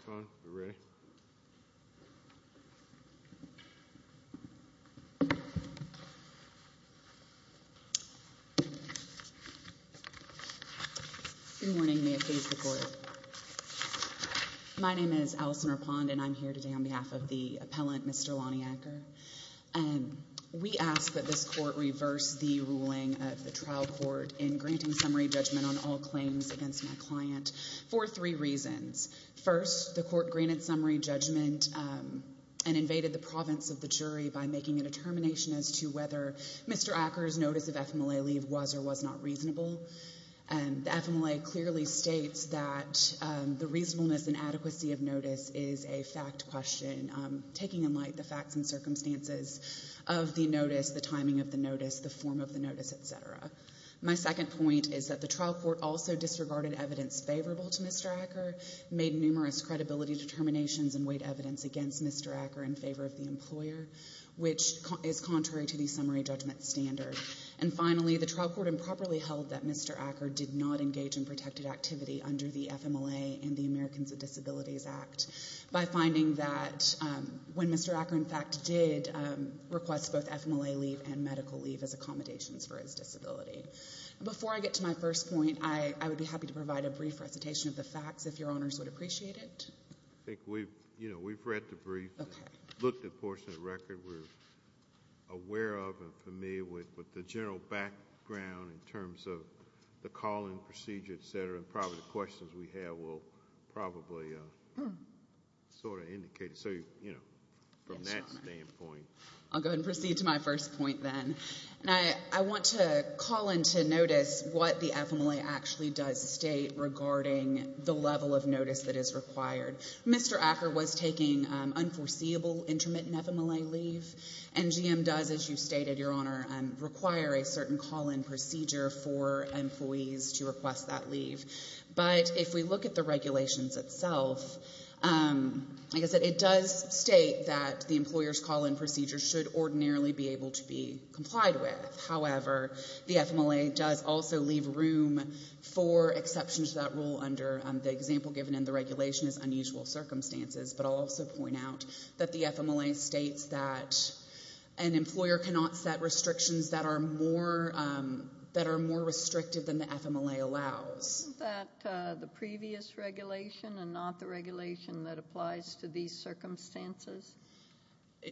Good morning, may it please the court. My name is Allison Rapond and I'm here today on behalf of the appellant, Mr. Lonnie Acker. We ask that this court reverse the ruling of the trial court in granting summary judgment on all claims against my client for three reasons. First, the court granted summary judgment and invaded the province of the jury by making a determination as to whether Mr. Acker's notice of FMLA leave was or was not reasonable. The FMLA clearly states that the reasonableness and of the notice, the timing of the notice, the form of the notice, etc. My second point is that the trial court also disregarded evidence favorable to Mr. Acker, made numerous credibility determinations and weighed evidence against Mr. Acker in favor of the employer, which is contrary to the summary judgment standard. And finally, the trial court improperly held that Mr. Acker did not engage in protected activity under the FMLA and the Americans with Disabilities Act by finding that when Mr. Acker, in fact, did request both FMLA leave and medical leave as accommodations for his disability. Before I get to my first point, I would be happy to provide a brief recitation of the facts if your honors would appreciate it. I think we've, you know, we've read the brief, looked at portions of the record we're aware of and familiar with, with the general background in terms of the call and procedure, etc., and probably the questions we have will probably sort of indicate it. So, you know, from that standpoint. I'll go ahead and proceed to my first point then. I want to call into notice what the FMLA actually does state regarding the level of notice that is required. Mr. Acker was taking unforeseeable intermittent FMLA leave and GM does, as you stated, your honor, require a certain call and procedure for employees to request that leave. But if we look at the regulations itself, like I said, it does state that the employer's call and procedure should ordinarily be able to be complied with. However, the FMLA does also leave room for exceptions to that rule under the example given in the regulation as unusual circumstances. But I'll also point out that the that are more restrictive than the FMLA allows. Isn't that the previous regulation and not the regulation that applies to these circumstances?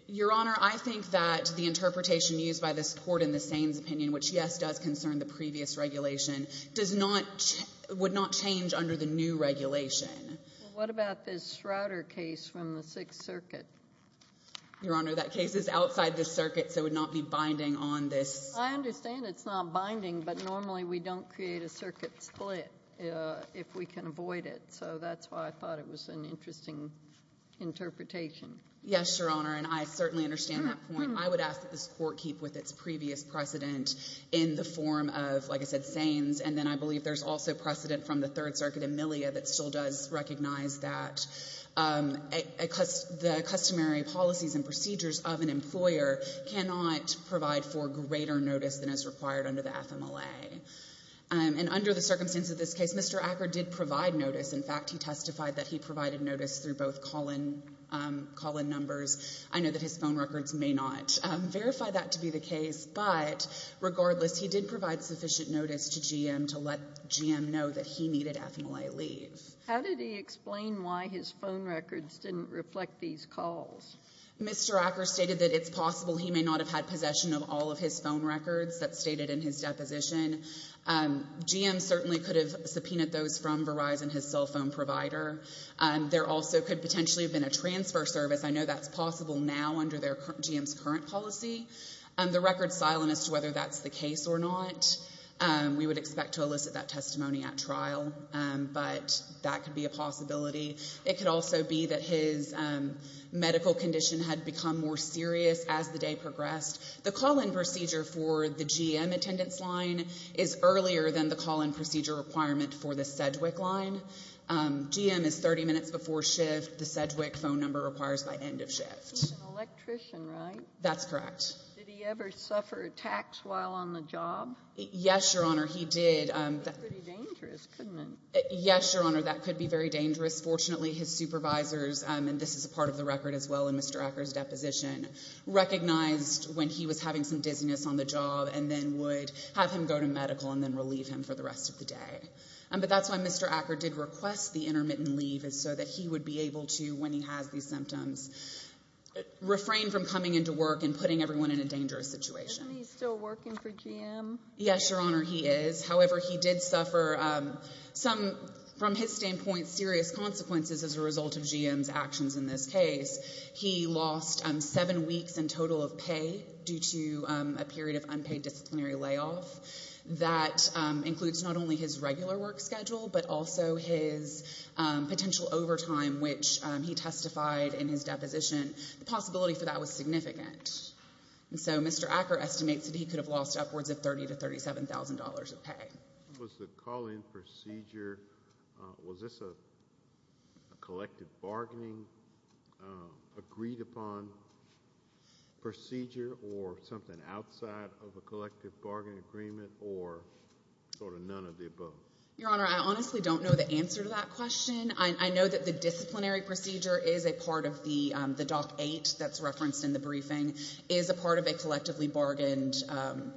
Your honor, I think that the interpretation used by this court in the Sains opinion, which yes, does concern the previous regulation, does not, would not change under the new regulation. What about this router case from the Sixth Circuit? Your honor, that case is outside the circuit, so it would not be binding on this. I understand it's not binding, but normally we don't create a circuit split if we can avoid it. So that's why I thought it was an interesting interpretation. Yes, your honor, and I certainly understand that point. I would ask that this court keep with its previous precedent in the form of, like I said, Sains. And then I believe there's also precedent from the Third Circuit, Amelia, that still does recognize that the customary policies and procedures of an employer cannot provide for greater notice than is required under the FMLA. And under the circumstance of this case, Mr. Acker did provide notice. In fact, he testified that he provided notice through both call-in numbers. I know that his phone records may not verify that to be the case, but regardless, he did provide sufficient notice to GM to let GM know that he needed FMLA leave. How did he explain why his phone may not have had possession of all of his phone records that's stated in his deposition? GM certainly could have subpoenaed those from Verizon, his cell phone provider. There also could potentially have been a transfer service. I know that's possible now under GM's current policy. The record's silent as to whether that's the case or not. We would expect to elicit that testimony at trial, but that could be a possibility. It could also be that his medical condition had become more serious as the day progressed. The call-in procedure for the GM attendance line is earlier than the call-in procedure requirement for the Sedgwick line. GM is 30 minutes before shift. The Sedgwick phone number requires by end of shift. He's an electrician, right? That's correct. Did he ever suffer attacks while on the job? Yes, Your Honor, he did. That could be pretty dangerous, couldn't it? Yes, Your Honor, that could be very dangerous. Fortunately, his supervisors, and this is a part of the record as well in Mr. Acker's deposition, recognized when he was having some dizziness on the job and then would have him go to medical and then relieve him for the rest of the day. But that's why Mr. Acker did request the intermittent leave so that he would be able to, when he has these symptoms, refrain from coming into work and putting everyone in a dangerous situation. Isn't he still working for GM? Yes, Your Honor, he is. However, he did suffer some, from his standpoint, serious consequences as a result of GM's actions in this case. He lost seven weeks in total of pay due to a period of unpaid disciplinary layoff. That includes not only his regular work schedule, but also his potential overtime, which he testified in his deposition, the possibility for that was $30,000 to $37,000 of pay. Was the call-in procedure, was this a collective bargaining agreed-upon procedure or something outside of a collective bargaining agreement or sort of none of the above? Your Honor, I honestly don't know the answer to that question. I know that the disciplinary procedure is a part of the DOC 8 that's referenced in the briefing, is a part of a collectively bargained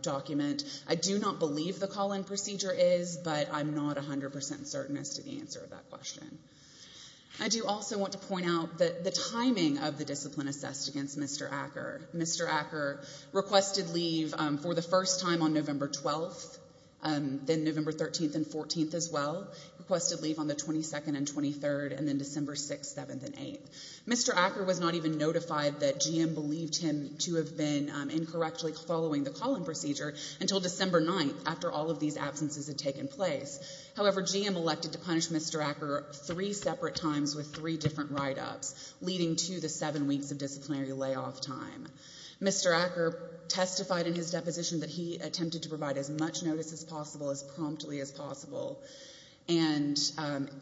document. I do not believe the call-in procedure is, but I'm not 100% certain as to the answer of that question. I do also want to point out the timing of the discipline assessed against Mr. Acker. Mr. Acker requested leave for the first time on November 12th, then November 13th and 14th as well, requested leave on the 22nd and 23rd, and then December 6th, 7th, and 8th. Mr. Acker was not even notified that GM believed him to have been incorrectly following the call-in procedure until December 9th, after all of these absences had taken place. However, GM elected to punish Mr. Acker three separate times with three different write-ups, leading to the seven weeks of disciplinary layoff time. Mr. Acker testified in his deposition that he attempted to provide as much notice as possible, as promptly as possible, and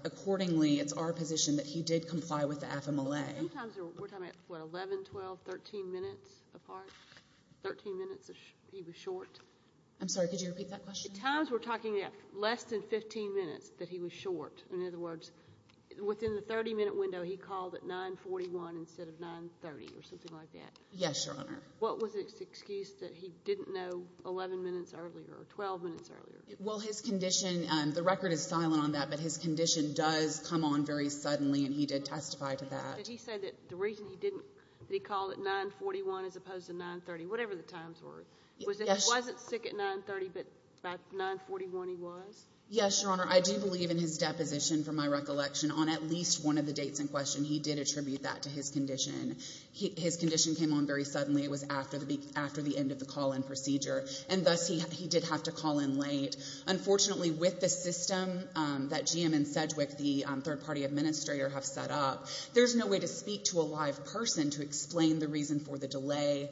accordingly, it's our position that he did comply with the FMLA. Sometimes we're talking about, what, 11, 12, 13 minutes apart? 13 minutes he was short? I'm sorry, could you repeat that question? Sometimes we're talking about less than 15 minutes that he was short. In other words, within the 30-minute window, he called at 941 instead of 930 or something like that? Yes, Your Honor. What was his excuse that he didn't know 11 minutes earlier or 12 minutes earlier? Well, his condition, the record is silent on that, but his condition does come on very suddenly. The reason he called at 941 as opposed to 930, whatever the times were, was that he wasn't sick at 930, but by 941 he was? Yes, Your Honor. I do believe in his deposition, from my recollection, on at least one of the dates in question, he did attribute that to his condition. His condition came on very suddenly. It was after the end of the call-in procedure, and thus he did have to call in late. Unfortunately, with the system that GM and Sedgwick, the third-party administrator, have set up, there's no way to speak to a live person to explain the reason for the delay,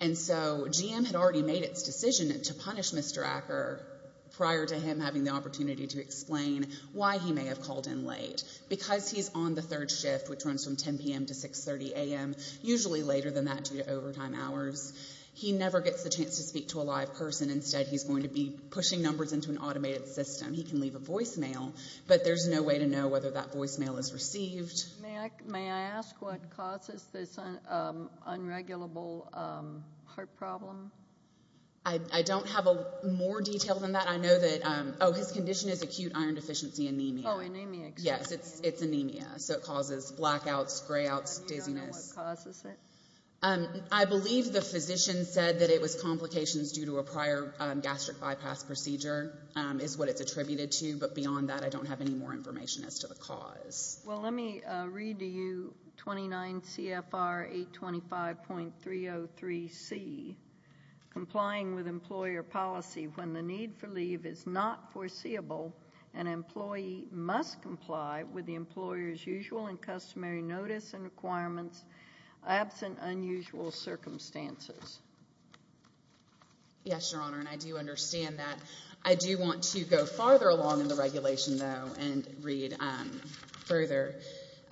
and so GM had already made its decision to punish Mr. Acker prior to him having the opportunity to explain why he may have called in late. Because he's on the third shift, which runs from 10 p.m. to 6.30 a.m., usually later than that due to overtime hours, he never gets the chance to speak to a live person. Instead, he's going to be pushing numbers into an automated system. He can leave a voicemail, but there's no way to know whether that voicemail is received. May I ask what causes this unregulable heart problem? I don't have more detail than that. I know that, oh, his condition is acute iron deficiency anemia. Oh, anemia. Yes, it's anemia. So it causes blackouts, grayouts, dizziness. Do you know what causes it? I believe the physician said that it was complications due to a prior gastric bypass procedure is what it's attributed to. But beyond that, I don't have any more information as to the cause. Well, let me read to you 29 CFR 825.303C, complying with employer policy when the need for leave is not foreseeable, an employee must comply with the employer's usual and customary notice and requirements absent unusual circumstances. Yes, Your Honor, and I do understand that. I do want to go farther along in the regulation, though, and read further.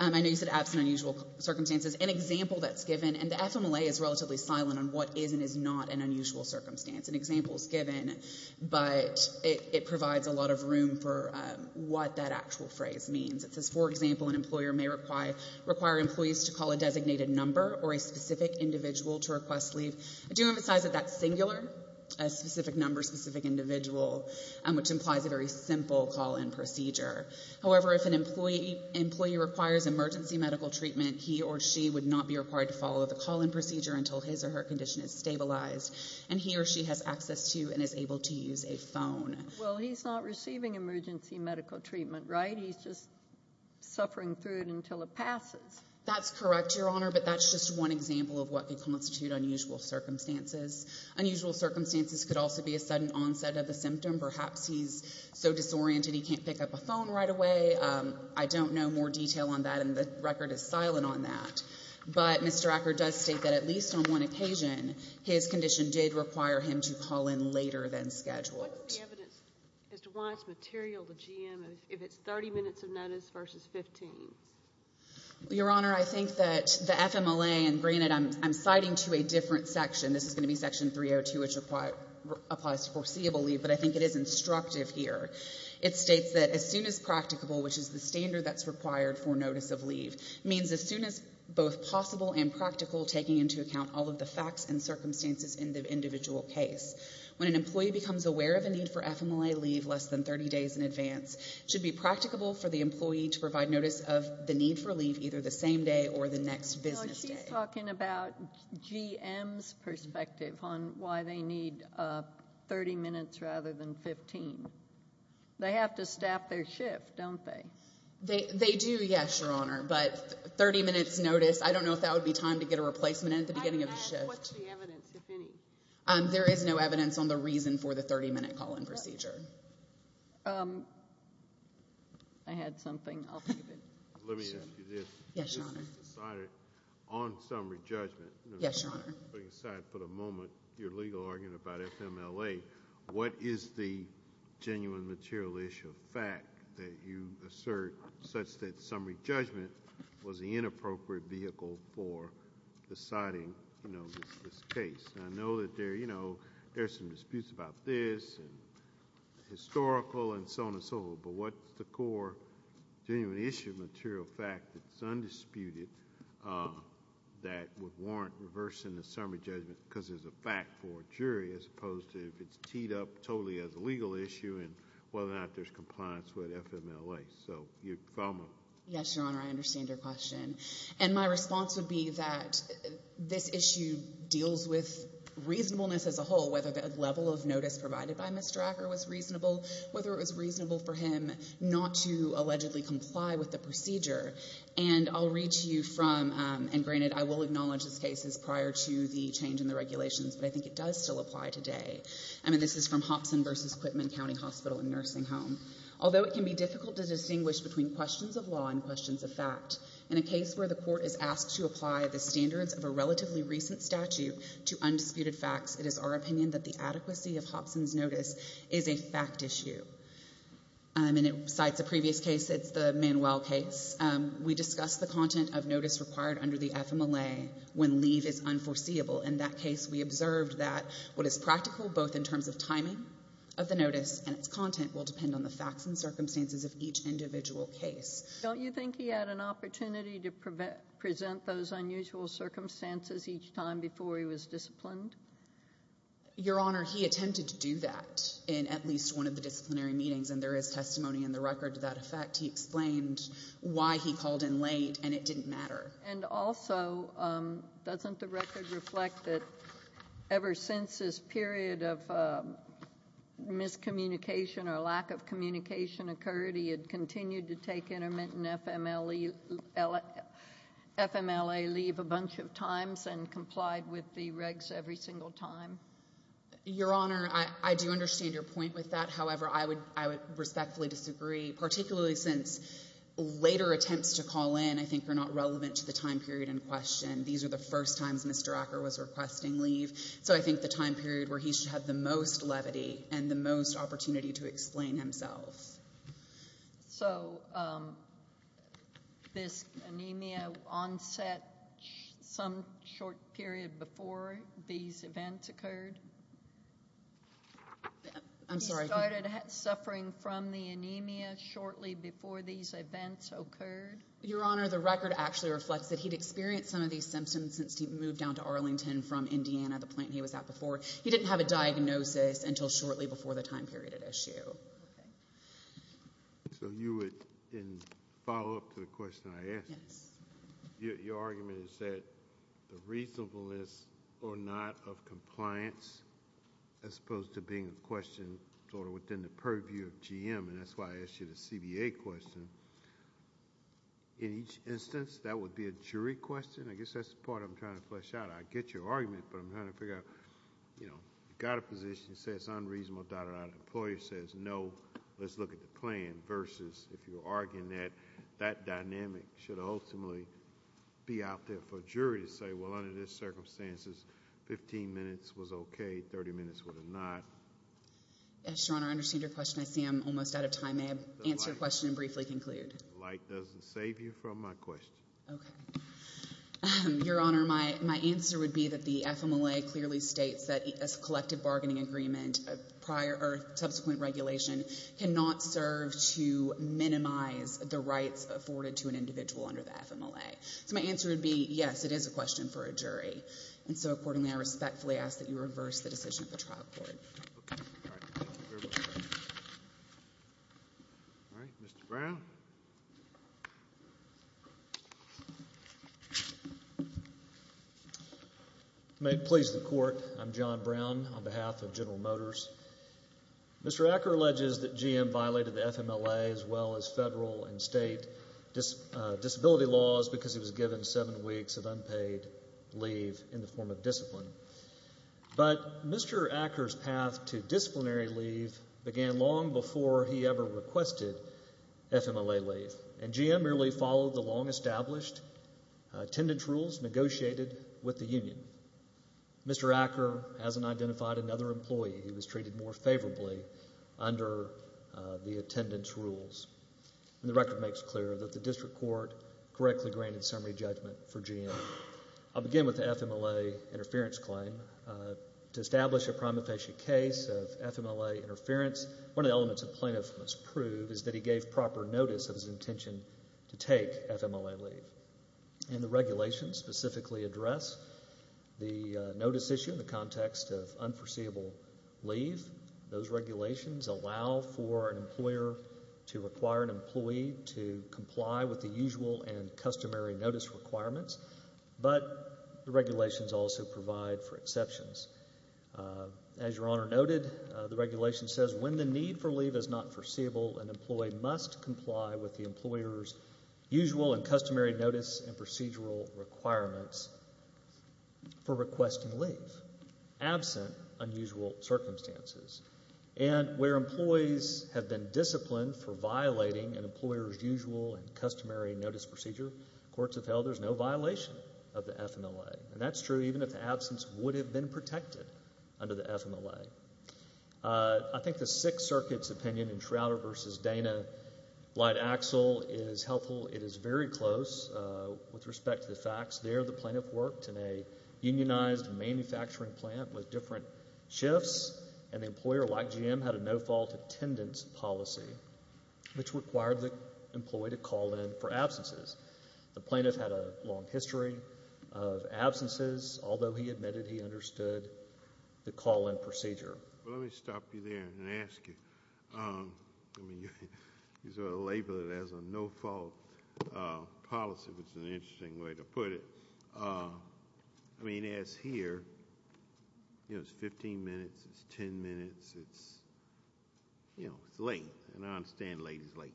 I know you said absent unusual circumstances. An example that's given, and the FMLA is relatively silent on what is and is not an unusual circumstance. An example is given, but it provides a lot of room for what that actual phrase means. It says, for example, an employer may require employees to call a designated number or a specific individual. I do emphasize that that's singular, a specific number, a specific individual, which implies a very simple call-in procedure. However, if an employee requires emergency medical treatment, he or she would not be required to follow the call-in procedure until his or her condition is stabilized, and he or she has access to and is able to use a phone. Well, he's not receiving emergency medical treatment, right? He's just suffering through it until it passes. That's correct, Your Honor, but that's just one example of what could constitute unusual circumstances. Unusual circumstances could also be a sudden onset of a symptom. Perhaps he's so disoriented he can't pick up a phone right away. I don't know more detail on that, and the record is silent on that, but Mr. Acker does state that at least on one occasion, his condition did require him to call in later than scheduled. What's the evidence as to why it's material, the GM, if it's 30 minutes of notice versus 15? Your Honor, I think that the FMLA, and granted, I'm citing to a different section. This is going to be Section 302, which applies to foreseeable leave, but I think it is instructive here. It states that as soon as practicable, which is the standard that's required for notice of leave, means as soon as both possible and practical, taking into account all of the facts and circumstances in the individual case. When an employee becomes aware of a need for FMLA leave less than 30 days in advance, it should be practicable for the employee to provide notice of the need for leave either the same day or the next business day. She's talking about GM's perspective on why they need 30 minutes rather than 15. They have to staff their shift, don't they? They do, yes, Your Honor, but 30 minutes notice, I don't know if that would be time to get a replacement in at the beginning of the shift. What's the evidence, if any? There is no evidence on the reason for the 30-minute call-in procedure. I had something. I'll keep it. Let me ask you this. Yes, Your Honor. You just decided on summary judgment. Yes, Your Honor. Putting aside for the moment your legal argument about FMLA, what is the genuine material issue of fact that you assert such that summary judgment was the inappropriate vehicle for deciding this case? I know that there are some disputes about this and historical and so on and so forth, but what's the core genuine issue of material fact that's undisputed that would warrant reversing the summary judgment because there's a fact for a jury as opposed to if it's teed up totally as a legal issue and whether or not there's compliance with FMLA? So, you follow me? Yes, Your Honor. I understand your question. My response would be that this issue deals with reasonableness as a whole, whether the level of notice provided by Mr. Acker was reasonable, whether it was reasonable for him not to allegedly comply with the procedure, and I'll read to you from, and granted, I will acknowledge this case is prior to the change in the regulations, but I think it does still apply today. I mean, this is from Hobson versus Quitman County Hospital and Nursing Home. Although it can be difficult to distinguish between questions of law and questions of fact, in a case where the court is asked to apply the standards of a relatively recent statute to undisputed facts, it is our opinion that the adequacy of Hobson's notice is a fact issue. And besides the previous case, it's the Manuel case. We discussed the content of notice required under the FMLA when leave is unforeseeable. In that case, we observed that what is practical, both in terms of timing of the notice and its content, will depend on the facts and circumstances of each individual case. Don't you think he had an opportunity to present those unusual circumstances each time before he was disciplined? Your Honor, he attempted to do that in at least one of the disciplinary meetings, and there is testimony in the record to that effect. He explained why he called in late, and it didn't matter. And also, doesn't the record reflect that ever since this period of miscommunication or lack of communication occurred, he had continued to take intermittent FMLA leave a bunch of times and complied with the regs every single time? Your Honor, I do understand your point with that. However, I would respectfully disagree, particularly since later attempts to call in, I think, are not relevant to the time period in question. These are the first times Mr. Acker was requesting leave. So I think the time period where he should have the most levity and the most opportunity to explain himself. So this anemia onset some short period before these events occurred? I'm sorry. Suffering from the anemia shortly before these events occurred? Your Honor, the record actually reflects that he'd experienced some of these symptoms since he moved down to Arlington from Indiana, the plant he was at before. He didn't have a diagnosis until shortly before the time period at issue. So you would, in follow-up to the question I asked, your argument is that the reasonableness or not of compliance as opposed to being a question sort of within the purview of GM, and that's why I asked you the CBA question. In each instance, that would be a jury question? I guess that's the part I'm trying to flesh out. I get your argument, but I'm trying to figure out, you know, you got a position that says it's unreasonably dotted out. An employer says, no, let's look at the plan versus if you're arguing that, that dynamic should ultimately be out there for jury to say, well, under these circumstances, 15 minutes was okay, 30 minutes was not. Your Honor, I understand your question. I see I'm almost out of time. May I answer your question and briefly conclude? The light doesn't save you from my question. Okay. Your Honor, my answer would be that the FMLA clearly states that a collective bargaining agreement or subsequent regulation cannot serve to minimize the rights afforded to an individual under the FMLA. So my answer would be, yes, it is a question for a jury. And so accordingly, I respectfully ask that you reverse the decision of the trial court. All right. Mr. Brown. May it please the Court. I'm John Brown on behalf of General Motors. Mr. Acker alleges that GM violated the FMLA as well as federal and state disability laws because he was given seven weeks of unpaid leave in the form of discipline. But Mr. Acker's path to disciplinary leave began long before he ever requested FMLA leave. And GM merely followed the long-established attendance rules negotiated with the union. Mr. Acker hasn't identified another employee. He was treated more favorably under the attendance rules. And the record makes clear that the district court correctly granted summary judgment for GM. I'll begin with the FMLA interference claim. To establish a prima facie case of FMLA interference, one of the elements a plaintiff must prove is that he gave proper notice of his intention to take FMLA leave. And the regulations specifically address the notice issue in the context of unforeseeable leave. Those regulations allow for an employer to require an employee to comply with the usual and customary notice requirements. But the regulations also provide for exceptions. As Your Honor noted, the regulation says when the need for leave is not foreseeable, an employee must comply with the employer's usual and customary notice and procedural requirements for requesting leave, absent unusual circumstances. And where employees have been disciplined for violating an employer's usual and customary notice procedure, courts have held there's no violation of the FMLA. And that's true even if the absence would have been protected under the FMLA. I think the Sixth Circuit's opinion in Shrouder v. Dana-Blyde-Axel is helpful. It is very close with respect to the facts there. The plaintiff worked in a unionized manufacturing plant with different shifts, and the employer, like GM, had a no-fault attendance policy, which required the employee to call in for absences. The plaintiff had a long history of absences, although he admitted he understood the call-in procedure. Let me stop you there and ask you, you sort of label it as a no-fault policy, which is an interesting way to put it. I mean, as here, it's 15 minutes, it's 10 minutes, it's late. And I understand late is late.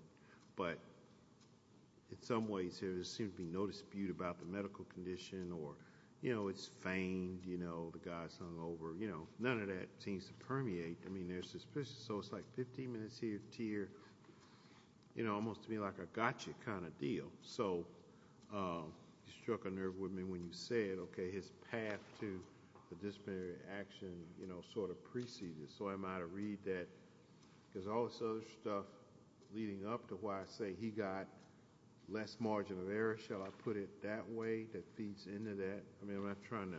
But in some ways here, there seems to be no dispute about the medical condition or it's feigned, the guy's hung over. None of that seems to permeate. I mean, there's suspicion. So it's like 15 minutes here to here, almost to me like a gotcha kind of deal. So you struck a nerve with me when you said, OK, his path to disciplinary action sort of preceded. So I might read that, because all this other stuff leading up to why I say he got less margin of error, shall I put it that way, that feeds into that. I mean, I'm not trying to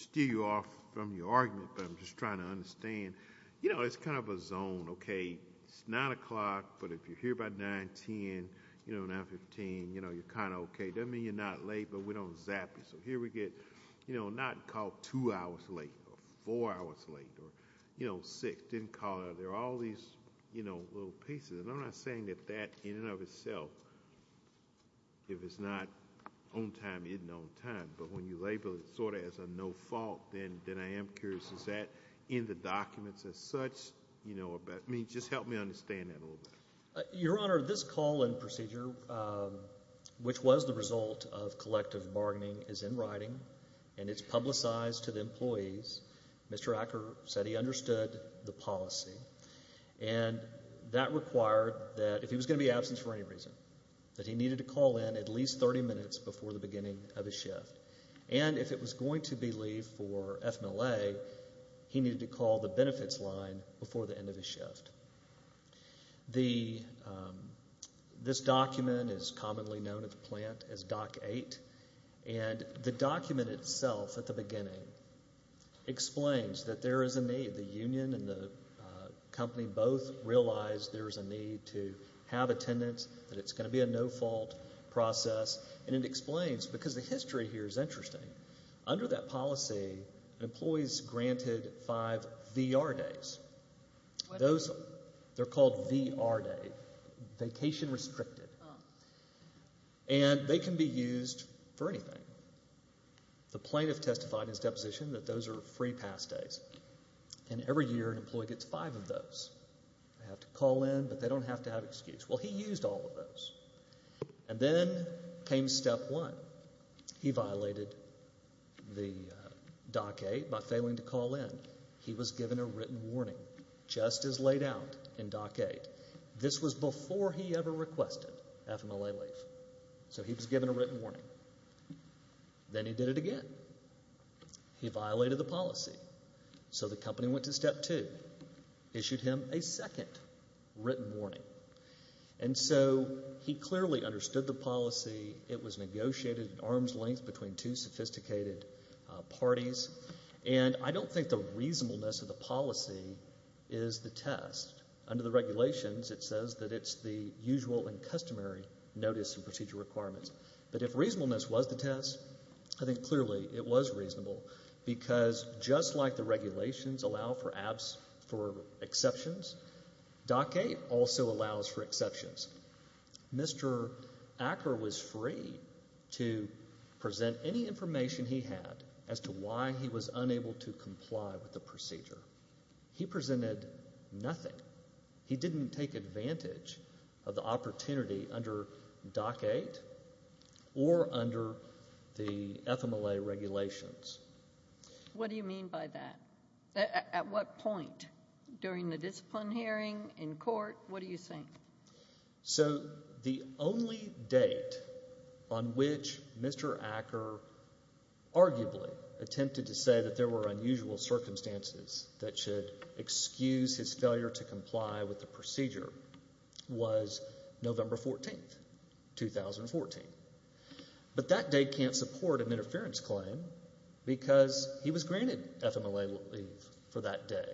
steer you off from your argument, but I'm just trying to understand. You know, it's kind of a zone, OK? It's 9 o'clock, but if you're here by 9, 10, 9, 15, you're kind of OK. Doesn't mean you're not late, but we don't zap you. So here we get not called two hours late or four hours late or six, didn't call. There are all these little pieces. And I'm not saying that that in and of itself, if it's not on time, isn't on time. But when you label it sort of as a no fault, then I am curious, is that in the documents as such? I mean, just help me understand that a little bit. Your Honor, this call-in procedure, which was the result of collective bargaining, is in writing. And it's publicized to the employees. Mr. Acker said he understood the policy. And that required that if he was going to be absent for any reason, that he needed to before the beginning of his shift. And if it was going to be leave for FMLA, he needed to call the benefits line before the end of his shift. This document is commonly known at the plant as Doc 8. And the document itself at the beginning explains that there is a need. The union and the company both realize there is a need to have attendance, that it's going to be a no fault process. And it explains, because the history here is interesting, under that policy, employees granted five VR days. Those, they're called VR day, vacation restricted. And they can be used for anything. The plaintiff testified in his deposition that those are free pass days. And every year, an employee gets five of those. Well, he used all of those. And then came step one. He violated the Doc 8 by failing to call in. He was given a written warning, just as laid out in Doc 8. This was before he ever requested FMLA leave. So he was given a written warning. Then he did it again. He violated the policy. So the company went to step two, issued him a second written warning. And so he clearly understood the policy. It was negotiated at arm's length between two sophisticated parties. And I don't think the reasonableness of the policy is the test. Under the regulations, it says that it's the usual and customary notice and procedure requirements. But if reasonableness was the test, I think clearly it was reasonable, because just like the regulations allow for exceptions, Doc 8 also allows for exceptions. Mr. Acker was free to present any information he had as to why he was unable to comply with the procedure. He presented nothing. He didn't take advantage of the opportunity under Doc 8 or under the FMLA regulations. What do you mean by that? At what point? During the discipline hearing? In court? What are you saying? So the only date on which Mr. Acker arguably attempted to say that there were unusual circumstances that should excuse his failure to comply with the procedure was November 14, 2014. But that date can't support an interference claim, because he was granted FMLA leave for that day.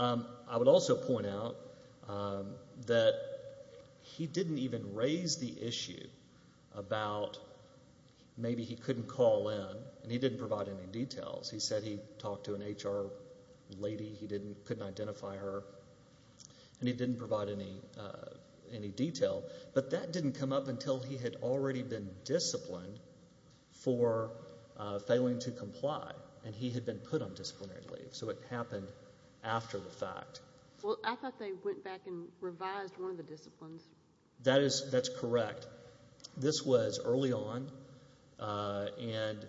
I would also point out that he didn't even raise the issue about maybe he couldn't call in, and he didn't provide any details. He said he talked to an HR lady, he couldn't identify her, and he didn't provide any detail. But that didn't come up until he had already been disciplined for failing to comply, and he had been put on disciplinary leave. So it happened after the fact. Well, I thought they went back and revised one of the disciplines. That's correct. This was early on, and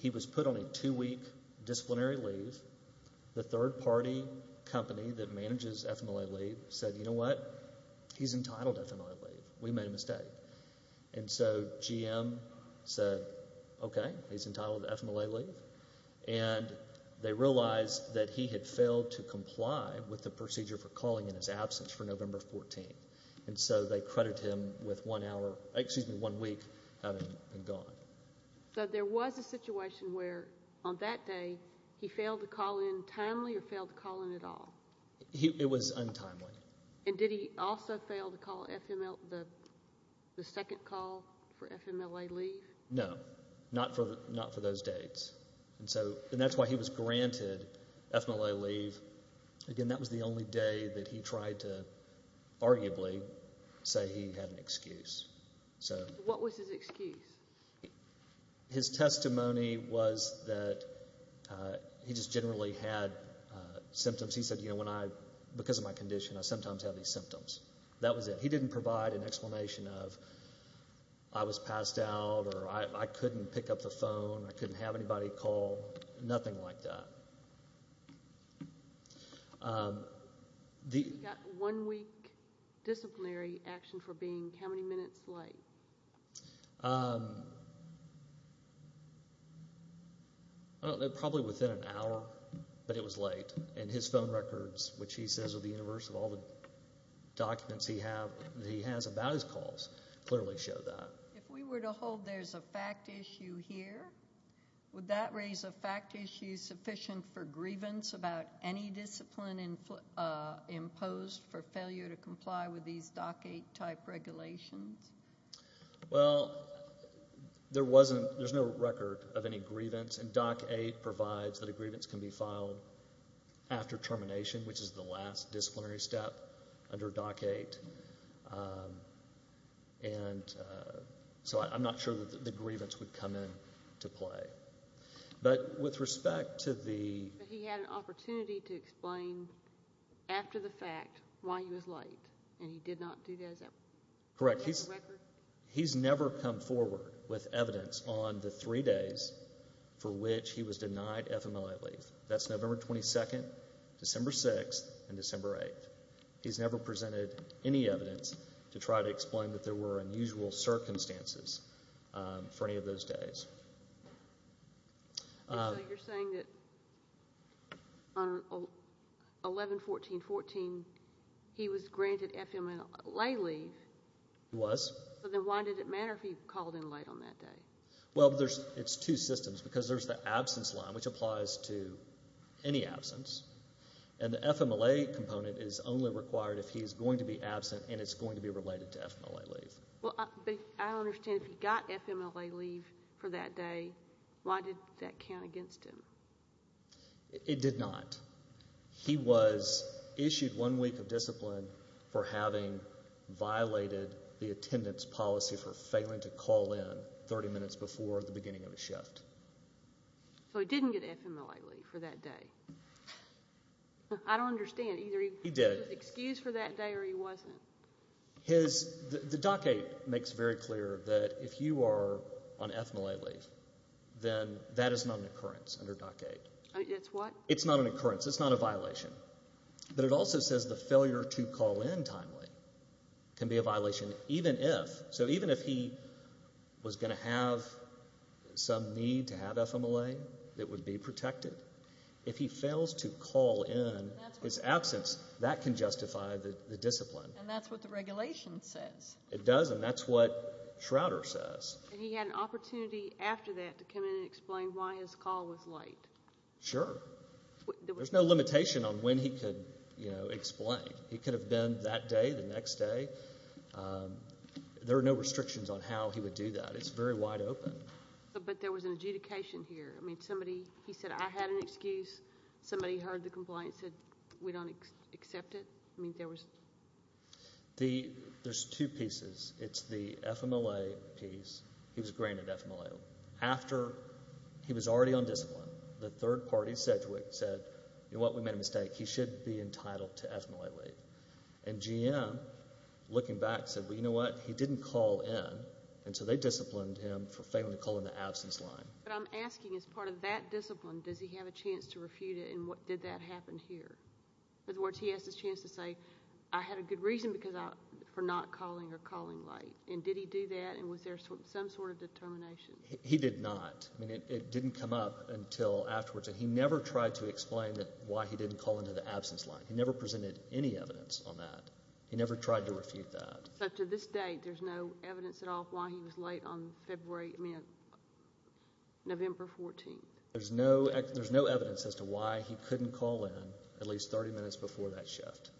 he was put on a two-week disciplinary leave. The third-party company that manages FMLA leave said, you know what? He's entitled to FMLA leave. We made a mistake. And so GM said, okay, he's entitled to FMLA leave. And they realized that he had failed to comply with the procedure for calling in his absence for November 14. And so they credited him with one week having been gone. So there was a situation where, on that day, he failed to call in timely or failed to call in at all? It was untimely. And did he also fail to call the second call for FMLA leave? No, not for those dates. And that's why he was granted FMLA leave. Again, that was the only day that he tried to arguably say he had an excuse. So what was his excuse? His testimony was that he just generally had symptoms. He said, you know, because of my condition, I sometimes have these symptoms. That was it. He didn't provide an explanation of I was passed out or I couldn't pick up the phone, I couldn't have anybody call, nothing like that. He got one-week disciplinary action for being how many minutes late? Probably within an hour. But it was late. And his phone records, which he says are the universe of all the documents he has about his calls, clearly show that. If we were to hold there's a fact issue here, would that raise a fact issue sufficient for grievance about any discipline imposed for failure to comply with these DOC 8 type regulations? Well, there's no record of any grievance. And DOC 8 provides that a grievance can be filed after termination, which is the last disciplinary step under DOC 8. And so I'm not sure that the grievance would come into play. But with respect to the... But he had an opportunity to explain after the fact why he was late and he did not do that as a record? Correct. He's never come forward with evidence on the three days for which he was denied FMLA leave. That's November 22nd, December 6th, and December 8th. He's never presented any evidence to try to explain that there were unusual circumstances for any of those days. And so you're saying that on 11-14-14, he was granted FMLA leave? He was. But then why did it matter if he called in late on that day? Well, it's two systems because there's the absence line, which applies to any absence. And the FMLA component is only required if he's going to be absent and it's going to be related to FMLA leave. Well, I understand if he got FMLA leave for that day, why did that count against him? It did not. He was issued one week of discipline for having violated the attendance policy for failing to call in 30 minutes before the beginning of his shift. So he didn't get FMLA leave for that day? I don't understand. Either he was excused for that day or he wasn't. The DOC-8 makes very clear that if you are on FMLA leave, then that is not an occurrence under DOC-8. It's what? It's not an occurrence. It's not a violation. But it also says the failure to call in timely can be a violation even if. So even if he was going to have some need to have FMLA that would be protected, if he fails to call in his absence, that can justify the discipline. And that's what the regulation says. It does. And that's what Schroeder says. And he had an opportunity after that to come in and explain why his call was late. Sure. There's no limitation on when he could explain. He could have been that day, the next day. There are no restrictions on how he would do that. It's very wide open. But there was an adjudication here. He said, I had an excuse. Somebody heard the complaint and said, we don't accept it. There's two pieces. It's the FMLA piece. He was granted FMLA. After he was already on discipline, the third party, Sedgwick, said, you know what? We made a mistake. He should be entitled to FMLA leave. And GM, looking back, said, well, you know what? He didn't call in. And so they disciplined him for failing to call in the absence line. But I'm asking, as part of that discipline, does he have a chance to refute it? And what did that happen here? In other words, he has this chance to say, I had a good reason for not calling or calling late. And did he do that? And was there some sort of determination? He did not. I mean, it didn't come up until afterwards. And he never tried to explain why he didn't call into the absence line. He never presented any evidence on that. He never tried to refute that. So to this date, there's no evidence at all why he was late on February, I mean, November 14th. There's no evidence as to why he couldn't call in at least 30 minutes before that shift.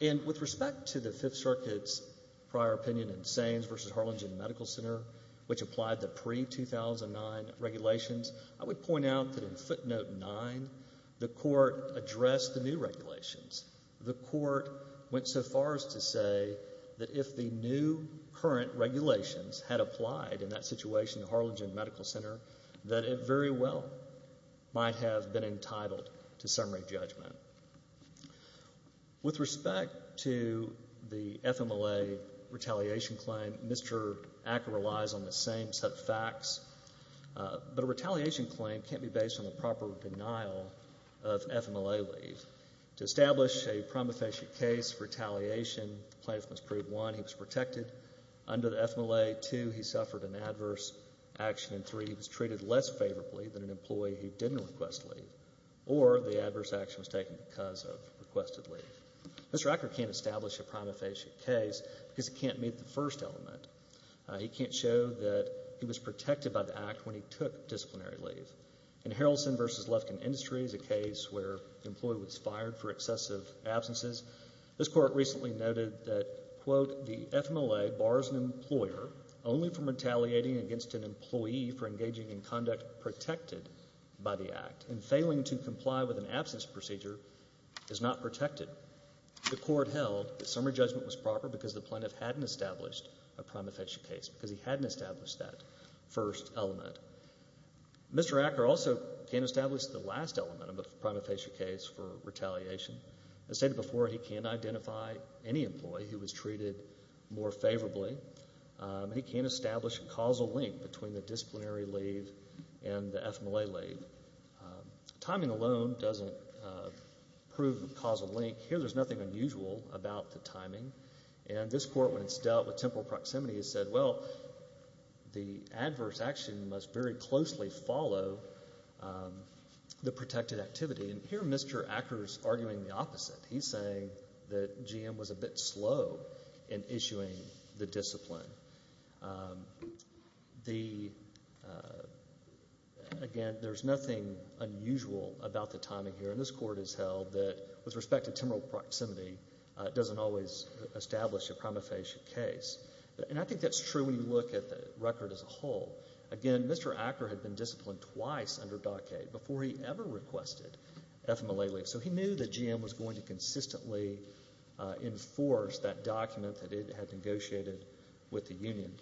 And with respect to the Fifth Circuit's prior opinion in Sainz v. Harlingen Medical Center, which applied the pre-2009 regulations, I would point out that in footnote 9, the court addressed the new regulations. The court went so far as to say that if the new current regulations had applied in that situation to Harlingen Medical Center, that it very well might have been entitled to some re-judgment. With respect to the FMLA retaliation claim, Mr. Acker relies on the same set of facts. But a retaliation claim can't be based on the proper denial of FMLA leave. To establish a prima facie case for retaliation, plaintiff must prove, one, he was protected under the FMLA, two, he suffered an adverse action, and three, he was treated less favorably than an employee who didn't request leave, or the adverse action was taken because of requested leave. Mr. Acker can't establish a prima facie case because he can't meet the first element. He can't show that he was protected by the act when he took disciplinary leave. In Harrelson v. Lufkin Industries, a case where an employee was fired for excessive absences, this court recently noted that, quote, the FMLA bars an employer only from retaliating against an employee for engaging in conduct protected by the act, and failing to comply with an absence procedure is not protected. The court held that summary judgment was proper because the plaintiff hadn't established a prima facie case, because he hadn't established that first element. Mr. Acker also can't establish the last element of a prima facie case for retaliation. As stated before, he can't identify any employee who was treated more favorably. He can't establish a causal link between the disciplinary leave and the FMLA leave. Timing alone doesn't prove a causal link. Here, there's nothing unusual about the timing. And this court, when it's dealt with temporal proximity, has said, well, the adverse action must very closely follow the protected activity. He's saying that GM was a bit slow in issuing the discipline. Again, there's nothing unusual about the timing here. And this court has held that with respect to temporal proximity, it doesn't always establish a prima facie case. And I think that's true when you look at the record as a whole. Again, Mr. Acker had been disciplined twice under Dockade before he ever requested FMLA leave. So he knew that GM was going to consistently enforce that document that it had negotiated with the union.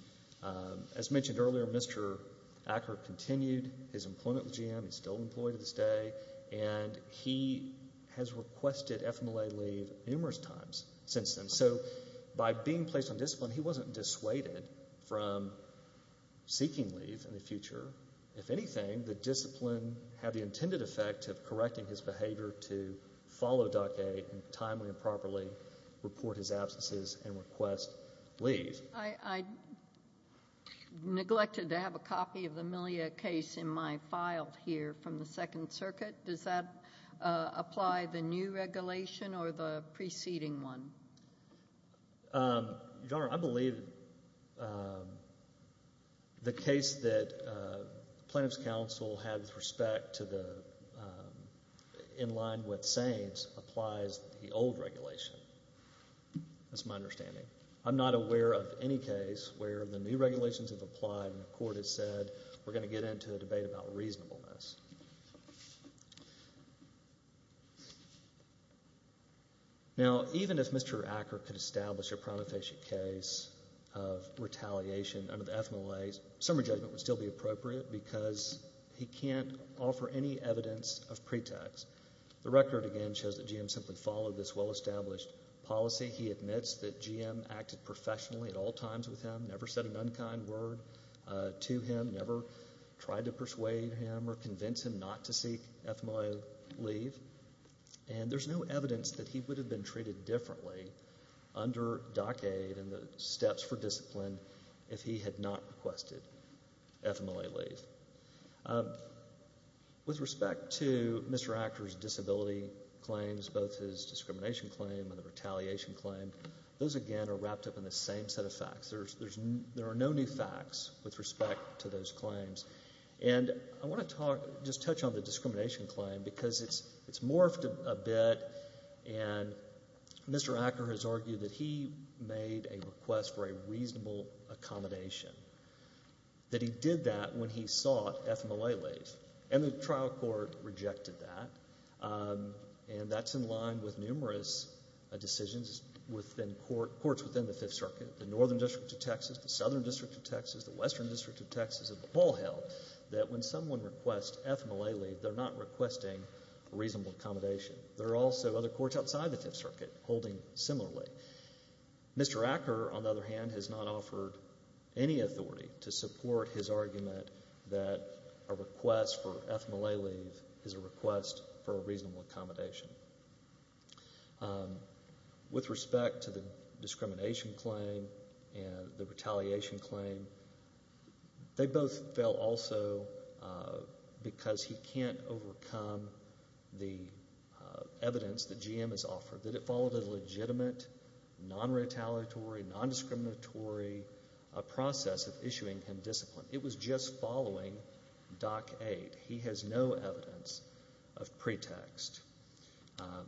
As mentioned earlier, Mr. Acker continued his employment with GM. He's still employed to this day. And he has requested FMLA leave numerous times since then. So by being placed on discipline, he wasn't dissuaded from seeking leave in the future. If anything, the discipline had the intended effect of correcting his behavior to follow Dockade and timely and properly report his absences and request leave. I neglected to have a copy of the Milia case in my file here from the Second Circuit. Does that apply the new regulation or the preceding one? Your Honor, I believe the case that plaintiff's counsel had with respect to the in line with Sainz applies the old regulation. That's my understanding. I'm not aware of any case where the new regulations have applied and the court has said we're going to get into a debate about reasonableness. Now, even if Mr. Acker could establish a prima facie case of retaliation under the FMLA, summary judgment would still be appropriate because he can't offer any evidence of pretext. The record, again, shows that GM simply followed this well-established policy. He admits that GM acted professionally at all times with him, never said an unkind word to him, never tried to persuade him or condemn him. Not to seek FMLA leave. And there's no evidence that he would have been treated differently under DOCAID and the steps for discipline if he had not requested FMLA leave. With respect to Mr. Acker's disability claims, both his discrimination claim and the retaliation claim, those, again, are wrapped up in the same set of facts. There are no new facts with respect to those claims. And I want to just touch on the discrimination claim because it's morphed a bit and Mr. Acker has argued that he made a request for a reasonable accommodation, that he did that when he sought FMLA leave. And the trial court rejected that. And that's in line with numerous decisions within courts within the Fifth Circuit. The Northern District of Texas, the Southern District of Texas, the Western District of that when someone requests FMLA leave, they're not requesting reasonable accommodation. There are also other courts outside the Fifth Circuit holding similarly. Mr. Acker, on the other hand, has not offered any authority to support his argument that a request for FMLA leave is a request for a reasonable accommodation. With respect to the discrimination claim and the retaliation claim, they both fail also because he can't overcome the evidence that GM has offered, that it followed a legitimate, non-retaliatory, non-discriminatory process of issuing him discipline. It was just following Doc 8. He has no evidence of pretext.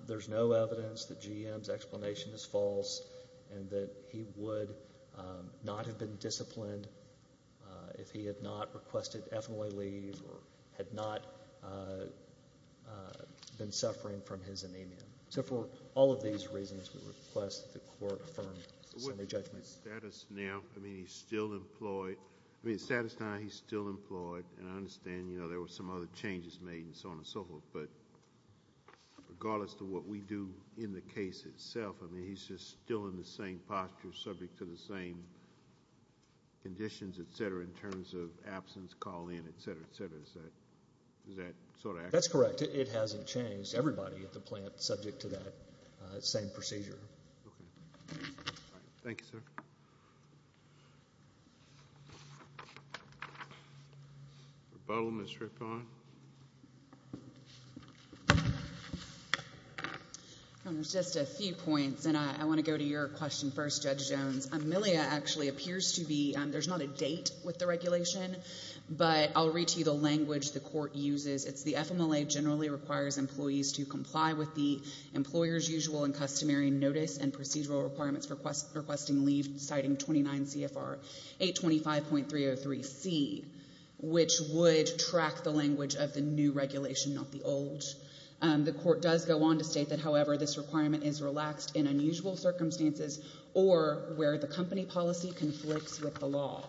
There's no evidence that GM's explanation is false and that he would not have been if he had not requested FMLA leave or had not been suffering from his anemia. So for all of these reasons, we request that the court affirm the summary judgment. With his status now, I mean, he's still employed. I mean, status now, he's still employed. And I understand, you know, there were some other changes made and so on and so forth. But regardless to what we do in the case itself, I mean, he's just still in the same posture, subject to the same conditions, et cetera, in terms of absence, call-in, et cetera, et cetera. Is that sort of accurate? That's correct. It hasn't changed. Everybody at the plant is subject to that same procedure. Thank you, sir. Rebuttal, Ms. Rippon. There's just a few points, and I want to go to your question first, Judge Jones. AMELIA actually appears to be, there's not a date with the regulation, but I'll read to you the language the court uses. It's the FMLA generally requires employees to comply with the employer's usual and customary notice and procedural requirements for requesting leave, citing 29 CFR 825.303C, which would track the language of the regulation. The court does go on to state that, however, this requirement is relaxed in unusual circumstances or where the company policy conflicts with the law.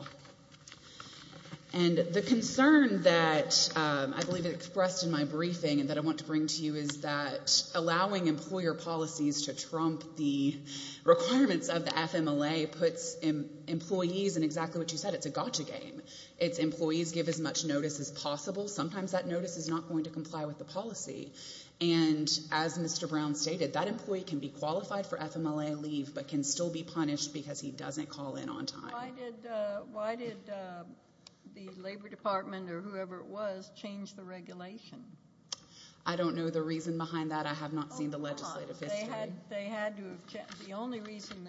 And the concern that I believe it expressed in my briefing and that I want to bring to you is that allowing employer policies to trump the requirements of the FMLA puts employees in exactly what you said. It's a gotcha game. Its employees give as much notice as possible. Sometimes that notice is not going to comply with the policy. And as Mr. Brown stated, that employee can be qualified for FMLA leave, but can still be punished because he doesn't call in on time. Why did the Labor Department or whoever it was change the regulation? I don't know the reason behind that. I have not seen the legislative history. They had to have changed. The only reason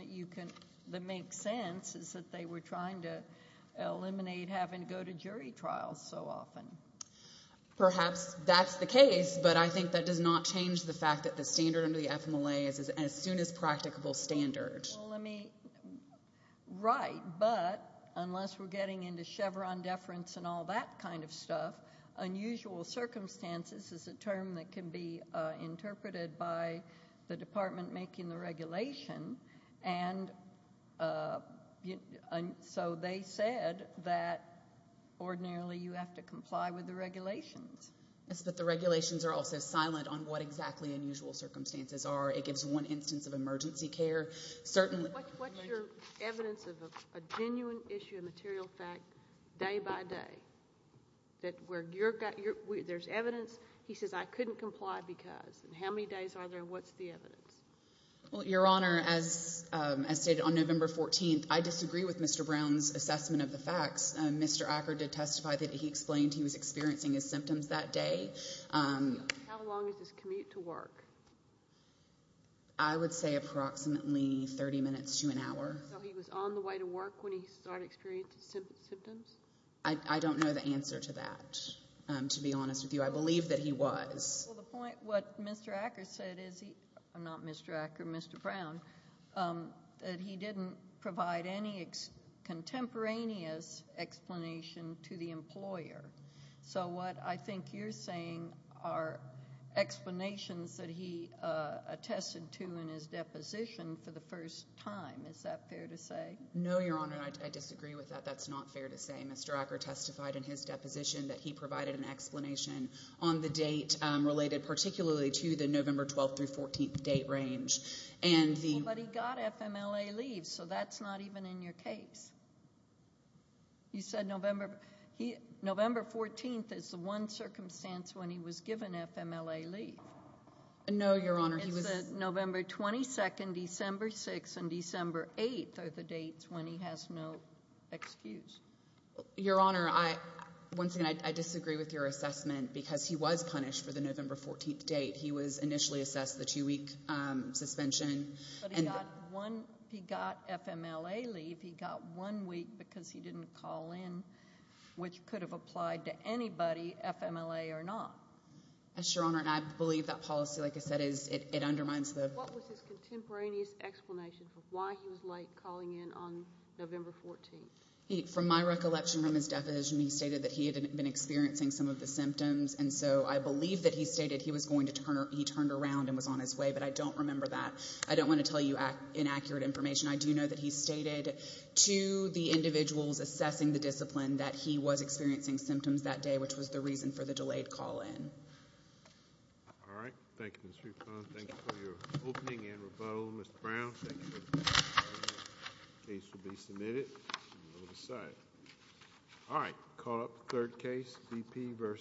that makes sense is that they were trying to eliminate having to go to jury trials so often. Perhaps that's the case, but I think that does not change the fact that the standard under the FMLA is as soon as practicable standard. Right, but unless we're getting into Chevron deference and all that kind of stuff, unusual circumstances is a term that can be interpreted by the department making the regulation. And so they said that ordinarily you have to comply with the regulations. Yes, but the regulations are also silent on what exactly unusual circumstances are. It gives one instance of emergency care. What's your evidence of a genuine issue of material fact day by day? That where there's evidence, he says, I couldn't comply because. What's the evidence? Your Honor, as stated on November 14th, I disagree with Mr. Brown's assessment of the facts. Mr. Acker did testify that he explained he was experiencing his symptoms that day. How long is this commute to work? I would say approximately 30 minutes to an hour. So he was on the way to work when he started experiencing symptoms? I don't know the answer to that, to be honest with you. I believe that he was. What Mr. Acker said is he, not Mr. Acker, Mr. Brown, that he didn't provide any contemporaneous explanation to the employer. So what I think you're saying are explanations that he attested to in his deposition for the first time. Is that fair to say? No, Your Honor, I disagree with that. That's not fair to say. Mr. Acker testified in his deposition that he provided an explanation on the date related particularly to the November 12th through 14th date range. But he got FMLA leave, so that's not even in your case. You said November 14th is the one circumstance when he was given FMLA leave. No, Your Honor. It's November 22nd, December 6th, and December 8th are the dates when he has no excuse. Your Honor, once again, I disagree with your assessment because he was punished for the November 14th date. He was initially assessed the two-week suspension. He got FMLA leave. He got one week because he didn't call in, which could have applied to anybody, FMLA or not. Yes, Your Honor, and I believe that policy, like I said, it undermines the... What was his contemporaneous explanation for why he was late calling in on November 14th? From my recollection from his deposition, he stated that he had been experiencing some of the symptoms, and so I believe that he stated he was going to turn... He turned around and was on his way, but I don't remember that. I don't want to tell you inaccurate information. I do know that he stated to the individuals assessing the discipline that he was experiencing symptoms that day, which was the reason for the delayed call in. All right. Thank you, Ms. Rufon. Thank you for your opening and rebuttal, Mr. Brown. Thank you. Case will be submitted. We'll decide. All right. Call up third case, BP versus...